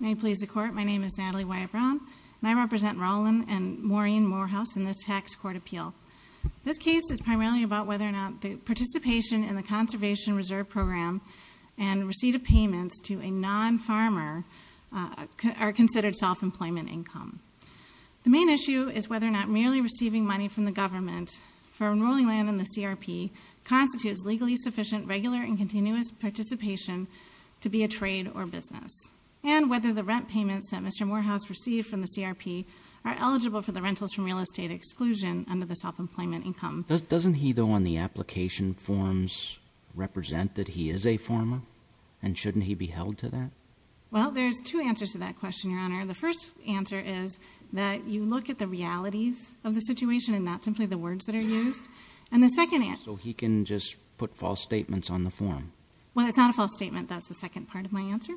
May it please the Court, my name is Natalie Wyatt-Brown, and I represent Rollin and Maureen Morehouse in this Tax Court Appeal. This case is primarily about whether or not the participation in the Conservation Reserve Program and receipt of payments to a non-farmer are considered self-employment income. The main issue is whether or not merely receiving money from the government for enrolling land in the CRP constitutes legally sufficient regular and continuous participation to be a trade or business, and whether the rent payments that Mr. Morehouse received from the CRP are eligible for the rentals from real estate exclusion under the self-employment income. Doesn't he, though, on the application forms represent that he is a farmer, and shouldn't he be held to that? Well, there's two answers to that question, Your Honor. The first answer is that you look at the realities of the situation and not simply the words that are used. And the second answer... So he can just put false statements on the form? Well, it's not a false statement, that's the second part of my answer.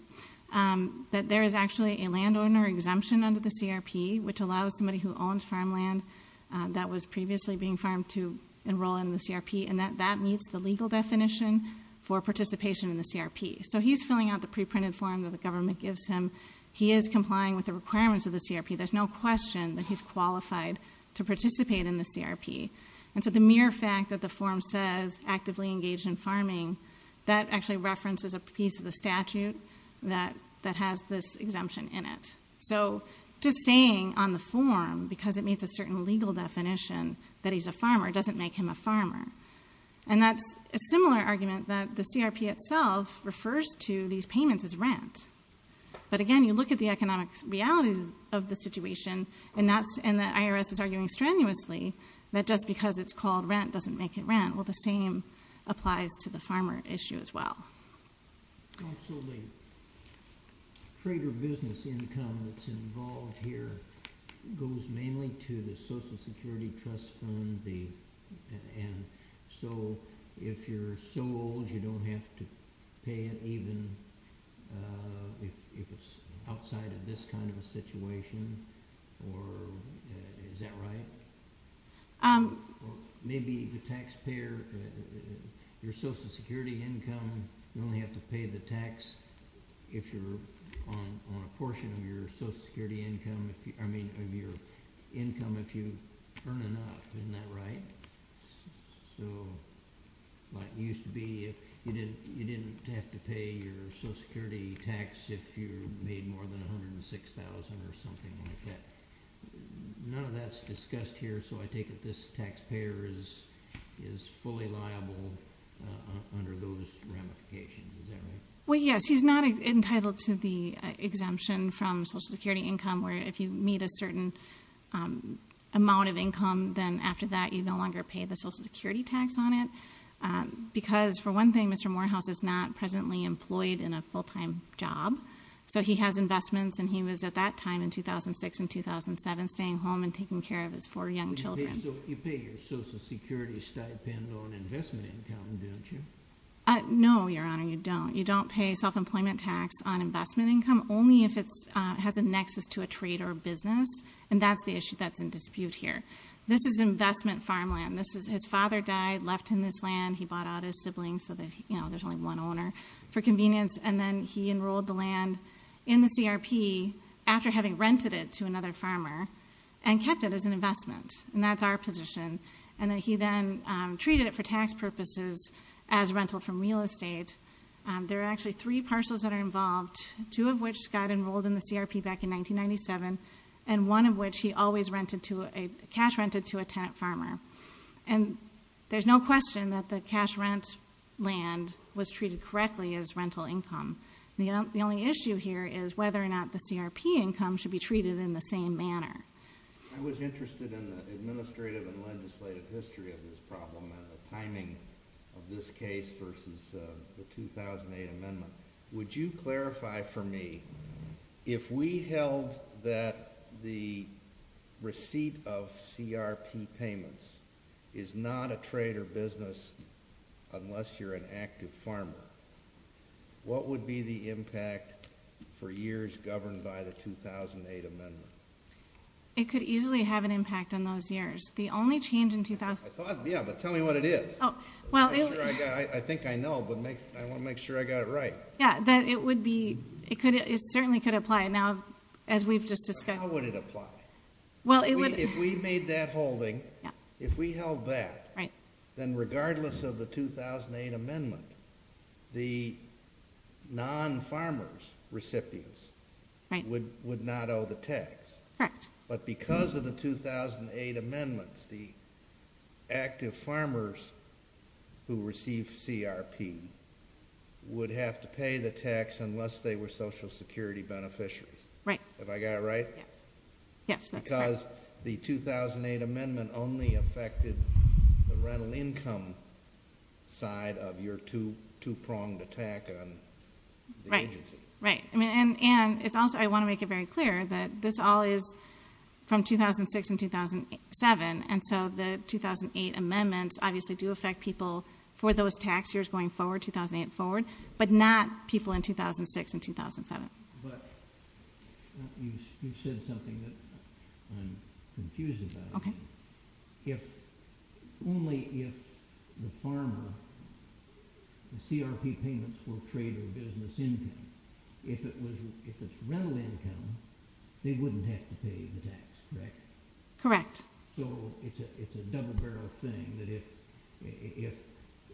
that was previously being farmed to enroll in the CRP, and that that meets the legal definition for participation in the CRP. So he's filling out the pre-printed form that the government gives him. He is complying with the requirements of the CRP. There's no question that he's qualified to participate in the CRP. And so the mere fact that the form says actively engaged in farming, that actually references a piece of the statute that has this exemption in it. So just saying on the form, because it meets a certain legal definition, that he's a farmer doesn't make him a farmer. And that's a similar argument that the CRP itself refers to these payments as rent. But again, you look at the economic realities of the situation, and the IRS is arguing strenuously that just because it's called rent doesn't make it rent. Well, the same applies to the farmer issue as well. Oh, so the trade or business income that's involved here goes mainly to the Social Security Trust Fund, and so if you're so old, you don't have to pay it even if it's outside of this kind of a situation, or is that right? Maybe the taxpayer, your Social Security income, you only have to pay the tax if you're on a portion of your Social Security income, I mean, of your income if you earn enough, isn't that right? So, like it used to be, you didn't have to pay your Social Security tax if you made more than $106,000 or something like that. None of that's discussed here, so I take it this taxpayer is fully liable under those ramifications, is that right? Well, yes, he's not entitled to the exemption from Social Security income, where if you meet a certain amount of income, then after that you no longer pay the Social Security tax on it, because for one thing, Mr. Morehouse is not presently employed in a full-time job, so he has investments, and he was at that time in 2006 and 2007 staying home and taking care of his four young children. You pay your Social Security stipend on investment income, don't you? No, Your Honor, you don't. You don't pay self-employment tax on investment income, only if it has a nexus to a trade or a business, and that's the issue that's in dispute here. This is investment farmland. His father died, left him this land, he bought out his siblings so that there's only one and then he enrolled the land in the CRP after having rented it to another farmer and kept it as an investment, and that's our position, and then he then treated it for tax purposes as rental from real estate. There are actually three parcels that are involved, two of which got enrolled in the CRP back in 1997, and one of which he always cash-rented to a tenant farmer, and there's no question that the cash-rent land was treated correctly as rental income. The only issue here is whether or not the CRP income should be treated in the same manner. I was interested in the administrative and legislative history of this problem and the timing of this case versus the 2008 amendment. Would you clarify for me, if we held that the receipt of CRP payments is not a trade or business unless you're an active farmer, what would be the impact for years governed by the 2008 amendment? It could easily have an impact on those years. The only change in 2000... I thought, yeah, but tell me what it is. I think I know, but I want to make sure I got it right. Yeah, it certainly could apply now, as we've just discussed. How would it apply? Well, it would... If we made that holding, if we held that, then regardless of the 2008 amendment, the non-farmers recipients would not owe the tax. Correct. But because of the 2008 amendments, the active farmers who received CRP would have to pay the tax unless they were social security beneficiaries. Right. Have I got it right? Yes. Yes, that's correct. Because the 2008 amendment only affected the rental income side of your two-pronged attack on the agency. Right. I want to make it very clear that this all is from 2006 and 2007, and so the 2008 amendments obviously do affect people for those tax years going forward, 2008 forward, but not people in 2006 and 2007. But you said something that I'm confused about. Okay. If only if the farmer, the CRP payments were trader business income, if it's rental income, they wouldn't have to pay the tax, correct? Correct. So it's a double-barrel thing that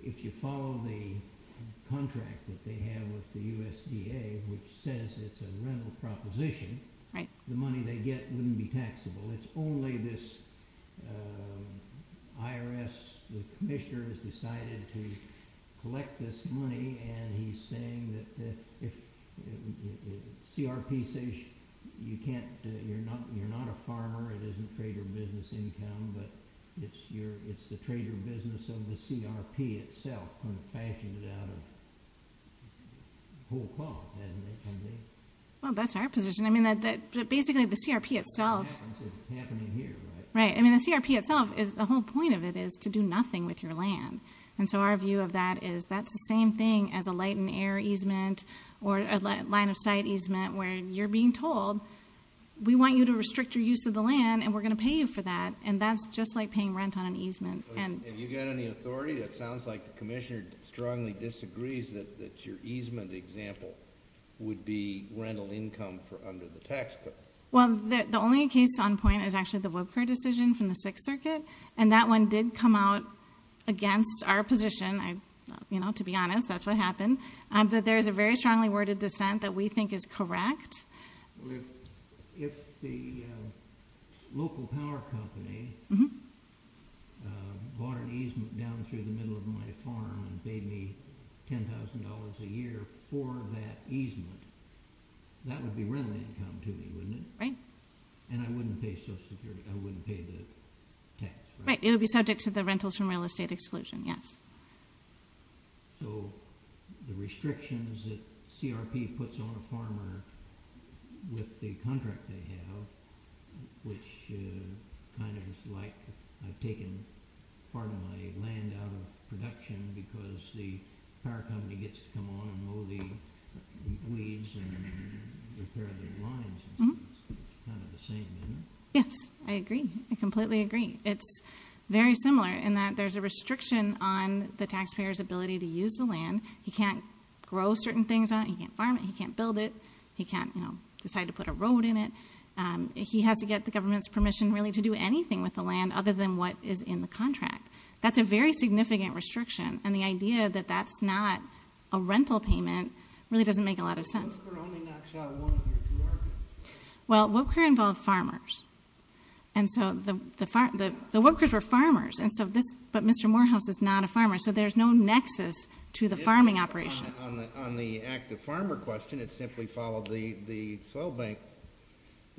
if you follow the contract that they have with the USDA, which says it's a rental proposition, the money they get wouldn't be taxable. It's only this IRS, the commissioner has decided to collect this money and he's saying that if CRP says you can't, you're not a farmer, it isn't trader business income, but it's the trader business of the CRP itself kind of fashioned it out of whole cloth, hasn't it? Well, that's our position. I mean, basically the CRP itself is the whole point of it is to do nothing with your land, and so our view of that is that's the same thing as a light and air easement or a line of sight easement where you're being told we want you to restrict your use of the land and we're going to pay you for that, and that's just like paying rent on an easement. Have you got any authority? It sounds like the commissioner strongly disagrees that your easement example would be rental income under the tax code. Well, the only case on point is actually the Woodcurt decision from the Sixth Circuit, and that one did come out against our position, to be honest, that's what happened, that there is a very strongly worded dissent that we think is correct. If the local power company bought an easement down through the middle of my farm and paid me $10,000 a year for that easement, that would be rental income to me, wouldn't it? Right. And I wouldn't pay social security, I wouldn't pay the tax, right? Right. It would be subject to the rentals from real estate exclusion, yes. So the restrictions that CRP puts on a farmer with the contract they have, which kind of is like, I've taken part of my land out of production because the power company gets to come on and mow the weeds and repair the lines, it's kind of the same, isn't it? Yes, I agree. I completely agree. It's very similar in that there's a restriction on the taxpayer's ability to use the land. He can't grow certain things on it, he can't farm it, he can't build it, he can't decide to put a road in it. He has to get the government's permission really to do anything with the land other than what is in the contract. That's a very significant restriction, and the idea that that's not a rental payment really doesn't make a lot of sense. Well, WIPCR involved farmers, and so the WIPCRs were farmers, but Mr. Morehouse is not a farmer, so there's no nexus to the farming operation. On the active farmer question, it simply followed the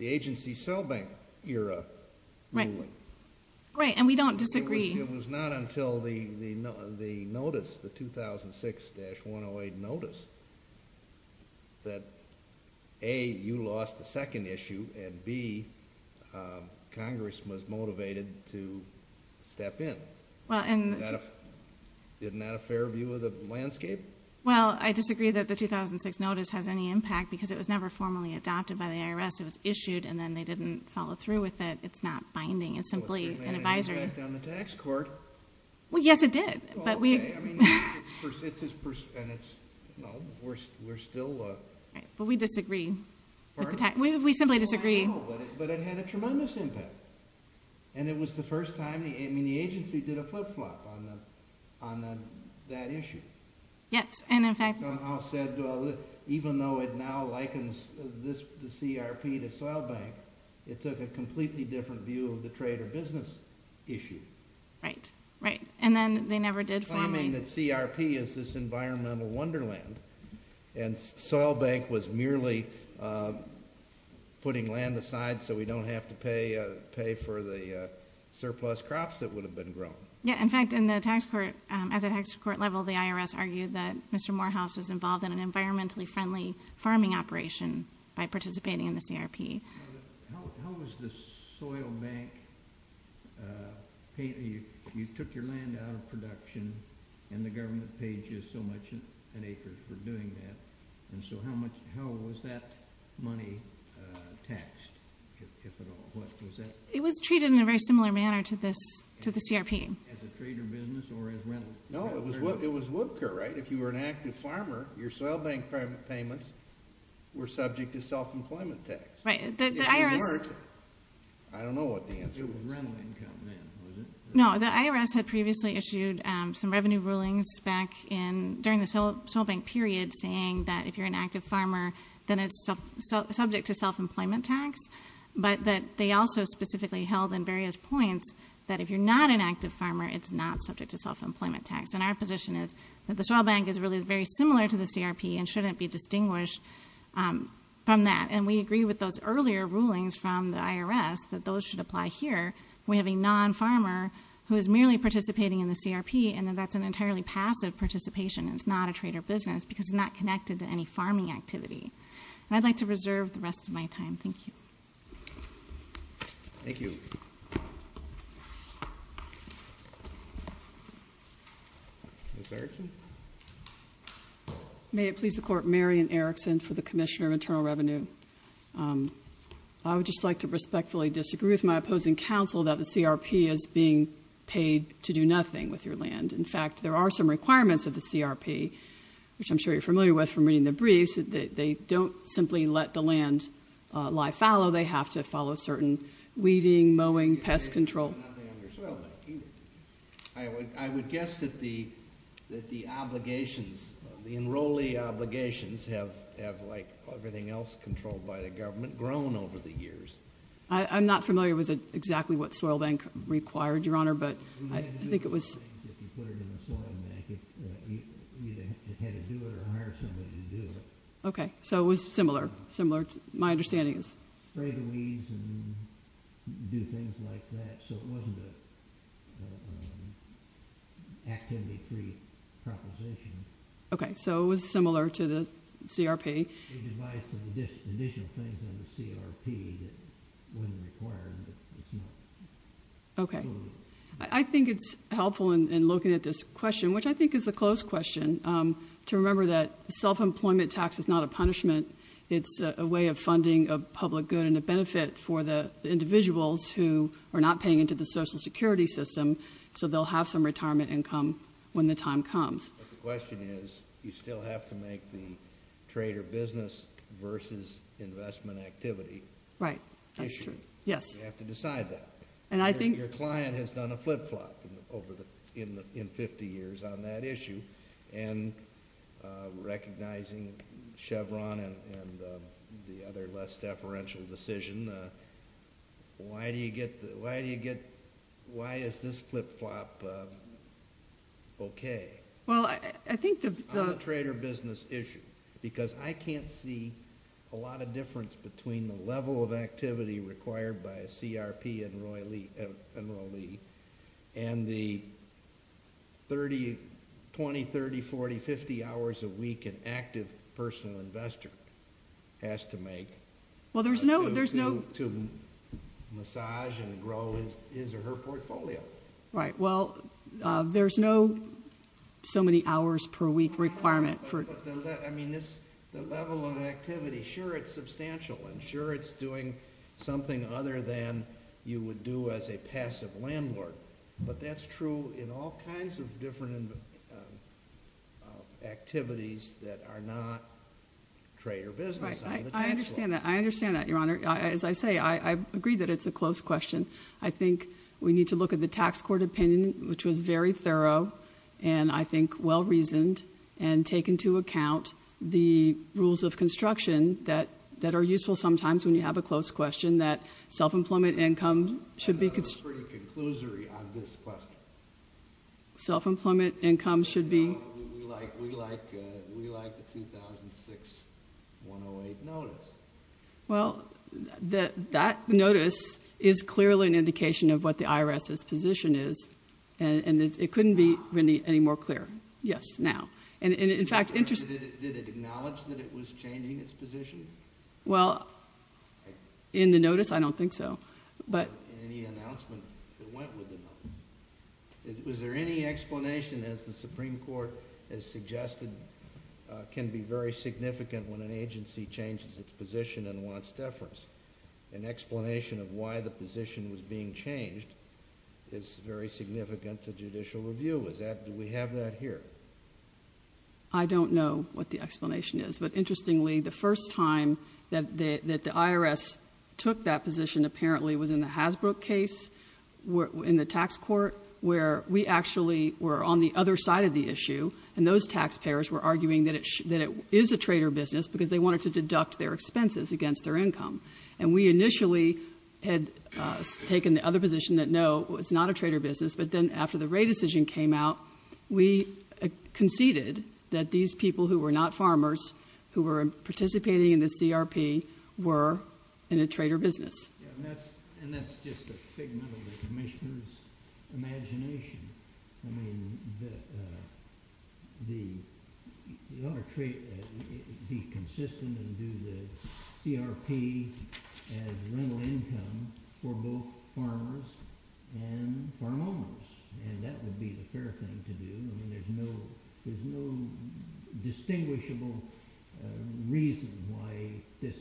agency's soil bank era ruling. Right, and we don't disagree. It was not until the notice, the 2006-108 notice, that A, you lost the second issue, and B, Congress was motivated to step in. Well, I disagree that the 2006 notice has any impact, because it was never formally adopted by the IRS. It was issued, and then they didn't follow through with it. It's not binding. It's simply an advisory. Well, it had an impact on the tax court. Well, yes, it did, but we... Well, okay, I mean, it's his, and it's, you know, we're still... Right, but we disagree. Pardon? We simply disagree. I know, but it had a tremendous impact, and it was the first time, I mean, the agency did a flip-flop on that issue. Yes, and in fact... Somehow said, well, even though it now likens the CRP to soil bank, it took a completely different view of the trade or business issue. Right, right, and then they never did formally... Claiming that CRP is this environmental wonderland, and soil bank was merely putting land aside so we don't have to pay for the surplus crops that would have been grown. Yeah, in fact, in the tax court, at the tax court level, the IRS argued that Mr. Morehouse was involved in an environmentally friendly farming operation by participating in the CRP. How was the soil bank... You took your land out of production, and the government paid you so much an acre for doing that, and so how much... How was that money taxed, if at all? What was that? It was treated in a very similar manner to the CRP. As a trade or business, or as rental income? No, it was WIPCA, right? If you were an active farmer, your soil bank private payments were subject to self-employment tax. Right, the IRS... If you weren't, I don't know what the answer was. It was rental income then, was it? No, the IRS had previously issued some revenue rulings back in, during the soil bank period, saying that if you're an active farmer, then it's subject to self-employment tax, but that they also specifically held in various points that if you're not an active farmer, it's not subject to self-employment tax, and our position is that the soil bank is really very similar to the CRP, and shouldn't be distinguished from that, and we agree with those earlier rulings from the IRS that those should apply here. We have a non-farmer who is merely participating in the CRP, and that that's an entirely passive participation, and it's not a trade or business, because it's not connected to any farming activity, and I'd like to reserve the rest of my time. Thank you. Thank you. Ms. Erickson? May it please the Court, Marian Erickson for the Commissioner of Internal Revenue. I would just like to respectfully disagree with my opposing counsel that the CRP is being paid to do nothing with your land. In fact, there are some requirements of the CRP, which I'm sure you're familiar with from reading the briefs, that they don't simply let the land lie fallow. They have to follow certain weeding, mowing, pest control. I would guess that the obligations, the enrollee obligations have, like everything else controlled by the government, grown over the years. I'm not familiar with exactly what the soil bank required, Your Honor, but I think it was... If you put it in a soil bank, you either had to do it or hire somebody to do it. Okay. So it was similar. Similar. My understanding is... Spray the weeds and do things like that. So it wasn't an activity-free proposition. Okay. So it was similar to the CRP. They devised some additional things on the CRP that wasn't required, but it's not... Okay. I think it's helpful in looking at this question, which I think is a close question, to remember that self-employment tax is not a punishment. It's a way of funding a public good and a benefit for the individuals who are not paying into the Social Security system, so they'll have some retirement income when the time comes. But the question is, you still have to make the trader business versus investment activity. Right. That's true. Yes. You have to decide that. And I think... Your client has done a flip-flop in 50 years on that issue, and recognizing Chevron and the other less deferential decision, why is this flip-flop okay? Well, I think the... On the trader business issue, because I can't see a lot of difference between the level of activity required by a CRP enrollee and the 20, 30, 40, 50 hours a week an active personal investor has to make to massage and grow his or her portfolio. Right. Well, there's no so-many-hours-per-week requirement for... I mean, the level of activity, sure, it's substantial, and sure, it's doing something other than you would do as a passive landlord. But that's true in all kinds of different activities that are not trader business on the tax floor. Right. I understand that. I understand that, Your Honor. As I say, I agree that it's a close question. I think we need to look at the tax court opinion, which was very thorough, and I think well-reasoned, and take into account the rules of construction that are useful sometimes when you have a close question, that self-employment income should be... I thought it was pretty conclusory on this question. Self-employment income should be... No, we like the 2006-108 notice. Well, that notice is clearly an indication of what the IRS's position is, and it couldn't be any more clear. Yes, now. In fact... Did it acknowledge that it was changing its position? Well, in the notice, I don't think so, but... In any announcement that went with the notice. Was there any explanation as the Supreme Court has suggested can be very significant when an agency changes its position and wants deference? An explanation of why the position was being changed is very significant to judicial review. Do we have that here? I don't know what the explanation is, but interestingly, the first time that the IRS took that position apparently was in the Hasbro case in the tax court, where we actually were on the other side of the issue, and those taxpayers were arguing that it is a trader business because they wanted to deduct their expenses against their income. And we initially had taken the other position that no, it's not a trader business, but then after the Wray decision came out, we conceded that these people who were not farmers, who were participating in the CRP, were in a trader business. And that's just a figment of the Commissioner's imagination. I mean, you ought to be consistent and do the CRP as rental income for both farmers and farm owners, and that would be the fair thing to do. I mean, there's no distinguishable reason why this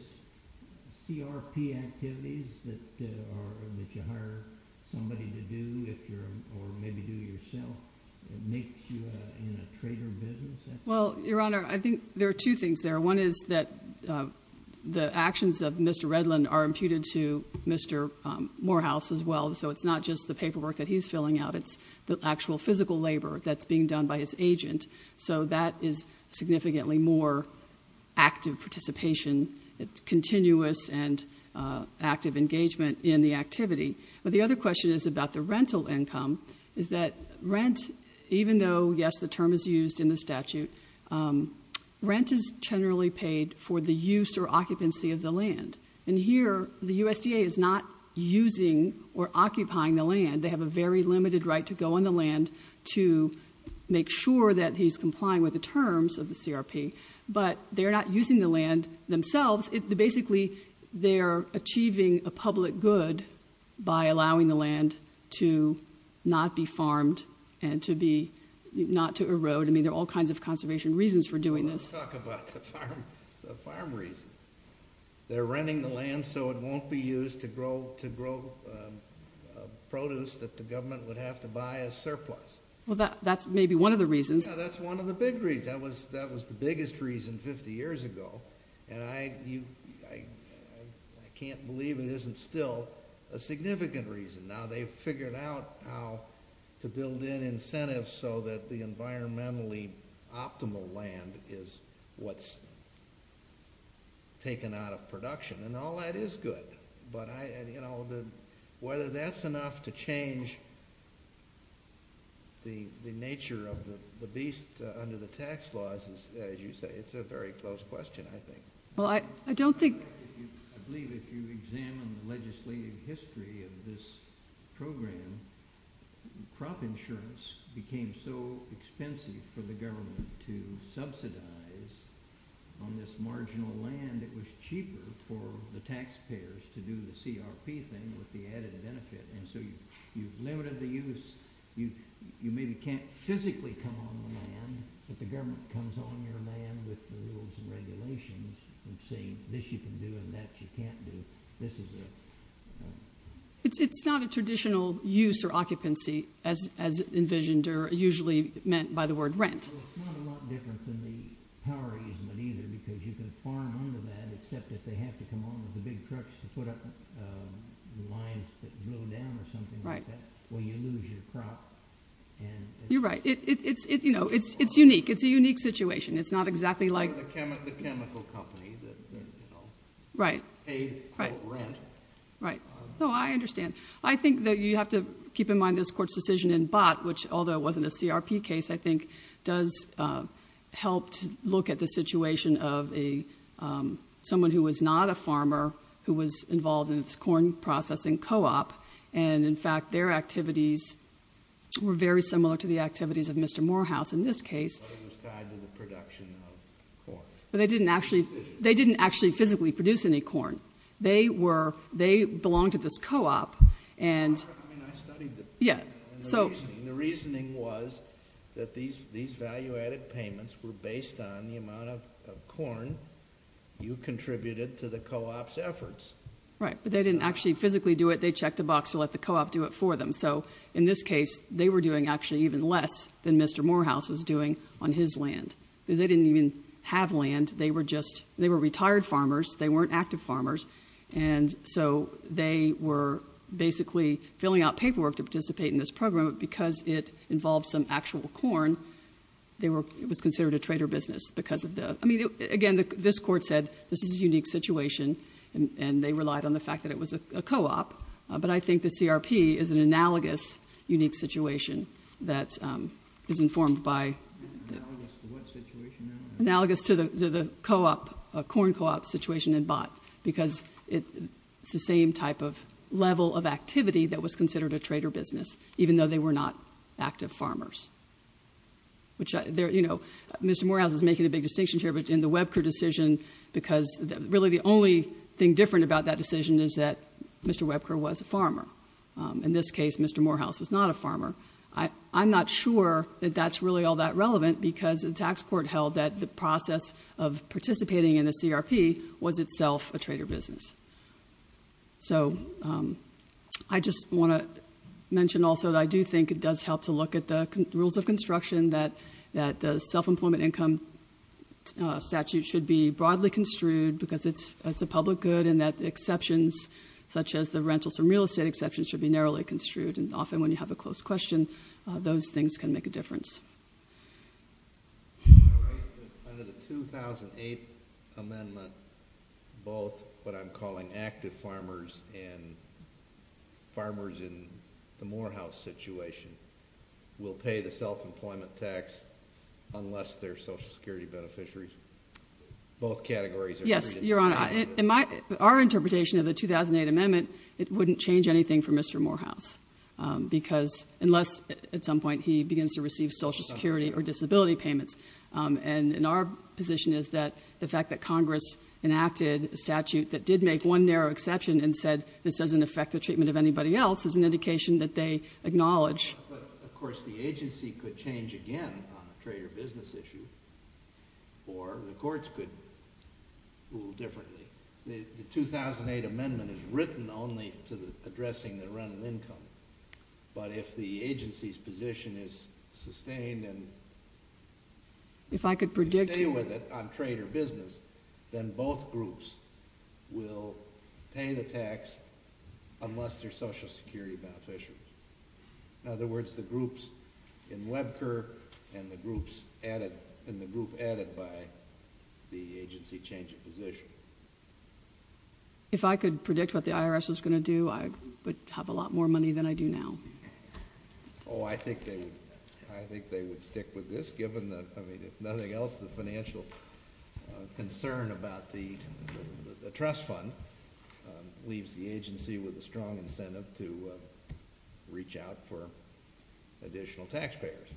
CRP activities that you hire somebody to do, or maybe do yourself, makes you in a trader business. Well, Your Honor, I think there are two things there. One is that the actions of Mr. Redlin are imputed to Mr. Morehouse as well. So it's not just the paperwork that he's filling out. It's the actual physical labor that's being done by his agent. So that is significantly more active participation. It's continuous and active engagement in the activity. But the other question is about the rental income, is that rent, even though, yes, the term is used in the statute, rent is generally paid for the use or occupancy of the land. And here, the USDA is not using or occupying the land. They have a very limited right to go on the land to make sure that he's complying with the terms of the CRP. But they're not using the land themselves. Basically, they're achieving a public good by allowing the land to not be farmed and not to erode. I mean, there are all kinds of conservation reasons for doing this. Well, let's talk about the farm reason. They're renting the land so it won't be used to grow produce that the government would have to buy as surplus. Well, that's maybe one of the reasons. Yeah, that's one of the big reasons. That was the biggest reason 50 years ago. And I can't believe it isn't still a significant reason. Now they've figured out how to build in incentives so that the environmentally optimal land is what's taken out of production. And all that is good. But whether that's enough to change the nature of the beast under the tax laws, as you say, it's a very close question, I think. I believe if you examine the legislative history of this program, crop insurance became so expensive for the government to subsidize on this marginal land, it was cheaper for the taxpayers to do the CRP thing with the added benefit. And so you've limited the use. You maybe can't physically come on the land, but the government comes on your regulations and saying this you can do and that you can't do. This is a ‑‑ It's not a traditional use or occupancy as envisioned or usually meant by the word rent. Well, it's not a lot different than the power easement either because you can farm under that except if they have to come on with the big trucks to put up lines that go down or something like that where you lose your crop. You're right. It's unique. It's a unique situation. It's not exactly like ‑‑ Or the chemical company that, you know, paid the rent. Right. No, I understand. I think that you have to keep in mind this Court's decision in Bott, which although it wasn't a CRP case, I think does help to look at the situation of someone who was not a farmer who was involved in its corn processing co‑op. And, in fact, their activities were very similar to the activities of Mr. Morehouse in this case. But it was tied to the production of corn. But they didn't actually physically produce any corn. They belonged to this co‑op. I mean, I studied it. And the reasoning was that these value‑added payments were based on the amount of corn you contributed to the co‑op's efforts. Right. But they didn't actually physically do it. They checked a box to let the co‑op do it for them. So, in this case, they were doing actually even less than Mr. Morehouse on his land because they didn't even have land. They were just ‑‑ they were retired farmers. They weren't active farmers. And so they were basically filling out paperwork to participate in this program because it involved some actual corn. It was considered a trader business because of the ‑‑ I mean, again, this Court said this is a unique situation. And they relied on the fact that it was a co‑op. But I think the CRP is an analogous unique situation that is informed by analogous to what situation now? Analogous to the co‑op, the corn co‑op situation in Bott because it's the same type of level of activity that was considered a trader business, even though they were not active farmers. Which, you know, Mr. Morehouse is making a big distinction here, but in the Webker decision, because really the only thing different about that decision is that Mr. Webker was a farmer. In this case, Mr. Morehouse was not a farmer. I'm not sure that that's really all that relevant because the tax court held that the process of participating in the CRP was itself a trader business. So I just want to mention also that I do think it does help to look at the rules of construction that the self‑employment income statute should be broadly construed because it's a public good and that exceptions such as the rentals and real estate exceptions should be narrowly construed. And often when you have a closed question, those things can make a difference. Under the 2008 amendment, both what I'm calling active farmers and farmers in the Morehouse situation will pay the self‑employment tax unless they're social security beneficiaries. Both categories agree. Yes, Your Honor. Our interpretation of the 2008 amendment, it wouldn't change anything for Mr. Webker because unless at some point he begins to receive social security or disability payments. And our position is that the fact that Congress enacted a statute that did make one narrow exception and said this doesn't affect the treatment of anybody else is an indication that they acknowledge. But, of course, the agency could change again on a trader business issue or the courts could rule differently. The 2008 amendment is written only to addressing the rental income. But if the agency's position is sustained and if I could stay with it on trader business, then both groups will pay the tax unless they're social security beneficiaries. In other words, the groups in Webker and the group added by the agency change their position. If I could predict what the IRS was going to do, I would have a lot more money than I do now. Oh, I think they would stick with this given that, I mean, if nothing else, the financial concern about the trust fund leaves the agency with a strong incentive to reach out for additional taxpayers.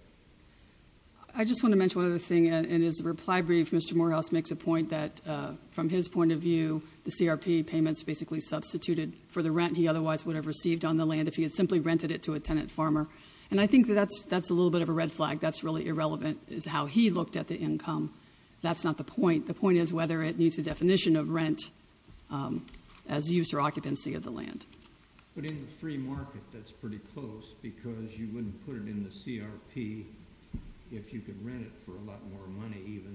I just want to mention one other thing. In his reply brief, Mr. Morehouse makes a point that, from his point of view, the CRP payments basically substituted for the rent he otherwise would have received on the land if he had simply rented it to a tenant farmer. And I think that that's a little bit of a red flag. That's really irrelevant is how he looked at the income. That's not the point. The point is whether it meets the definition of rent as use or occupancy of the land. But in the free market, that's pretty close because you wouldn't put it in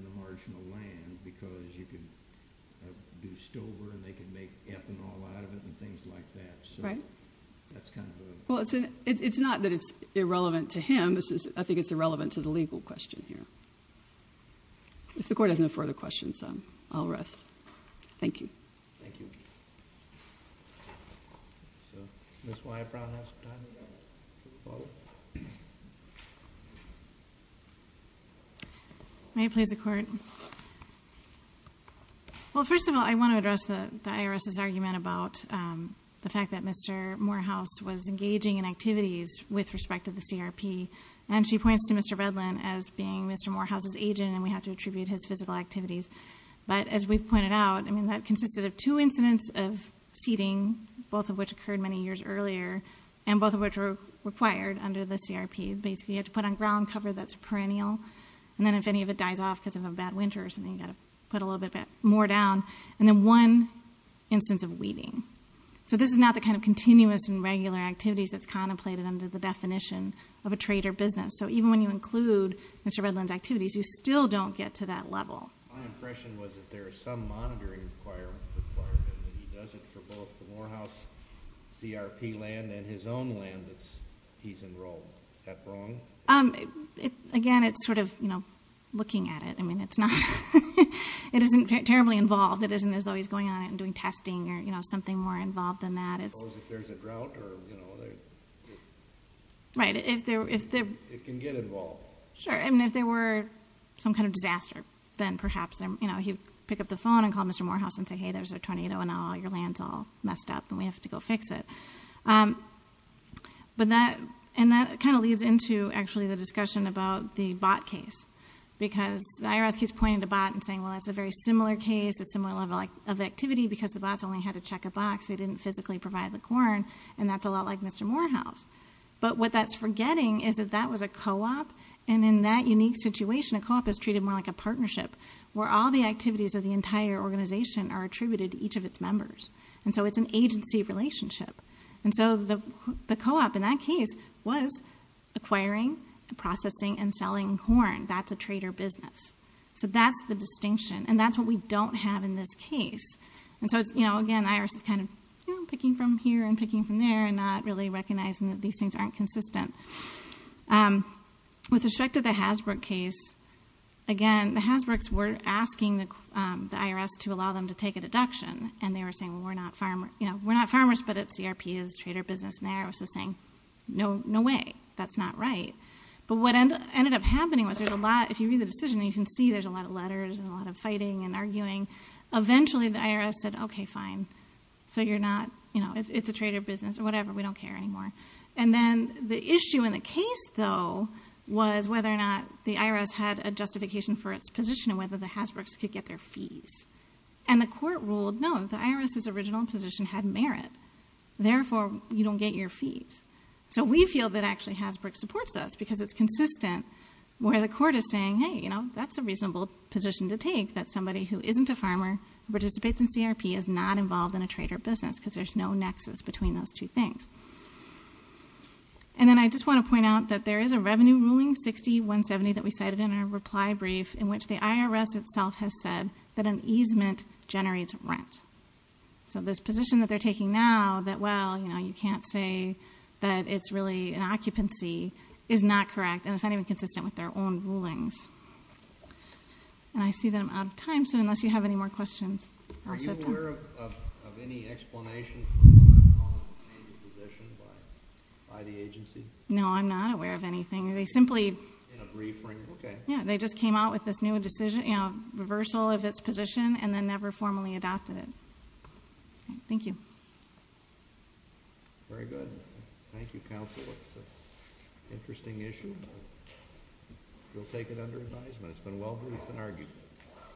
the marginal land because you could do stover and they could make ethanol out of it and things like that. Right. That's kind of the point. Well, it's not that it's irrelevant to him. I think it's irrelevant to the legal question here. If the court has no further questions, I'll rest. Thank you. Thank you. Ms. Weibrown has time to follow. May it please the Court? Well, first of all, I want to address the IRS's argument about the fact that Mr. Morehouse was engaging in activities with respect to the CRP. And she points to Mr. Redland as being Mr. Morehouse's agent and we have to attribute his physical activities. But as we've pointed out, I mean, that consisted of two incidents of seating, both of which occurred many years earlier, and both of which were required under the CRP. Basically, you have to put on ground cover that's perennial. And then if any of it dies off because of a bad winter or something, you've got to put a little bit more down. And then one instance of weeding. So this is not the kind of continuous and regular activities that's contemplated under the definition of a trade or business. So even when you include Mr. Redland's activities, you still don't get to that level. My impression was that there is some monitoring requirement that he does it for both the Morehouse CRP land and his own land that he's enrolled. Is that wrong? Again, it's sort of, you know, looking at it. I mean, it isn't terribly involved. It isn't as though he's going out and doing testing or, you know, something more involved than that. Suppose if there's a drought or, you know, it can get involved. Sure. I mean, if there were some kind of disaster, then perhaps, you know, he'd pick up the phone and call Mr. Morehouse and say, hey, there's a tornado and now all your land's all messed up and we have to go fix it. And that kind of leads into actually the discussion about the bot case. Because the IRS keeps pointing to bot and saying, well, that's a very similar case, a similar level of activity, because the bots only had to check a box. They didn't physically provide the corn. And that's a lot like Mr. Morehouse. But what that's forgetting is that that was a co-op, and in that unique situation a co-op is treated more like a partnership where all the activities of the entire organization are attributed to each of its members. And so it's an agency relationship. And so the co-op in that case was acquiring, processing, and selling corn. That's a trader business. So that's the distinction, and that's what we don't have in this case. And so, you know, again, the IRS is kind of, you know, recognizing that these things aren't consistent. With respect to the Hasbro case, again, the Hasbroks were asking the IRS to allow them to take a deduction, and they were saying, well, we're not farmers, you know, we're not farmers but it's CRP, it's a trader business, and the IRS was just saying, no way, that's not right. But what ended up happening was there's a lot, if you read the decision, you can see there's a lot of letters and a lot of fighting and arguing. Eventually the IRS said, okay, fine, so you're not, you know, it's a trader business or whatever, we don't care anymore. And then the issue in the case, though, was whether or not the IRS had a justification for its position and whether the Hasbroks could get their fees. And the court ruled, no, the IRS's original position had merit, therefore you don't get your fees. So we feel that actually Hasbrok supports us because it's consistent where the court is saying, hey, you know, that's a reasonable position to take that somebody who isn't a farmer who participates in CRP is not involved in a trader business because there's no nexus between those two things. And then I just want to point out that there is a revenue ruling, 60-170, that we cited in our reply brief in which the IRS itself has said that an easement generates rent. So this position that they're taking now that, well, you know, you can't say that it's really an occupancy is not correct and it's not even consistent with their own rulings. And I see that I'm out of time, so unless you have any more questions. Are you aware of any explanation for the change of position by the agency? No, I'm not aware of anything. They simply just came out with this new decision, you know, reversal of its position and then never formally adopted it. Thank you. Very good. Thank you, counsel. It's an interesting issue. We'll take it under advisement. It's been well-briefed and argued.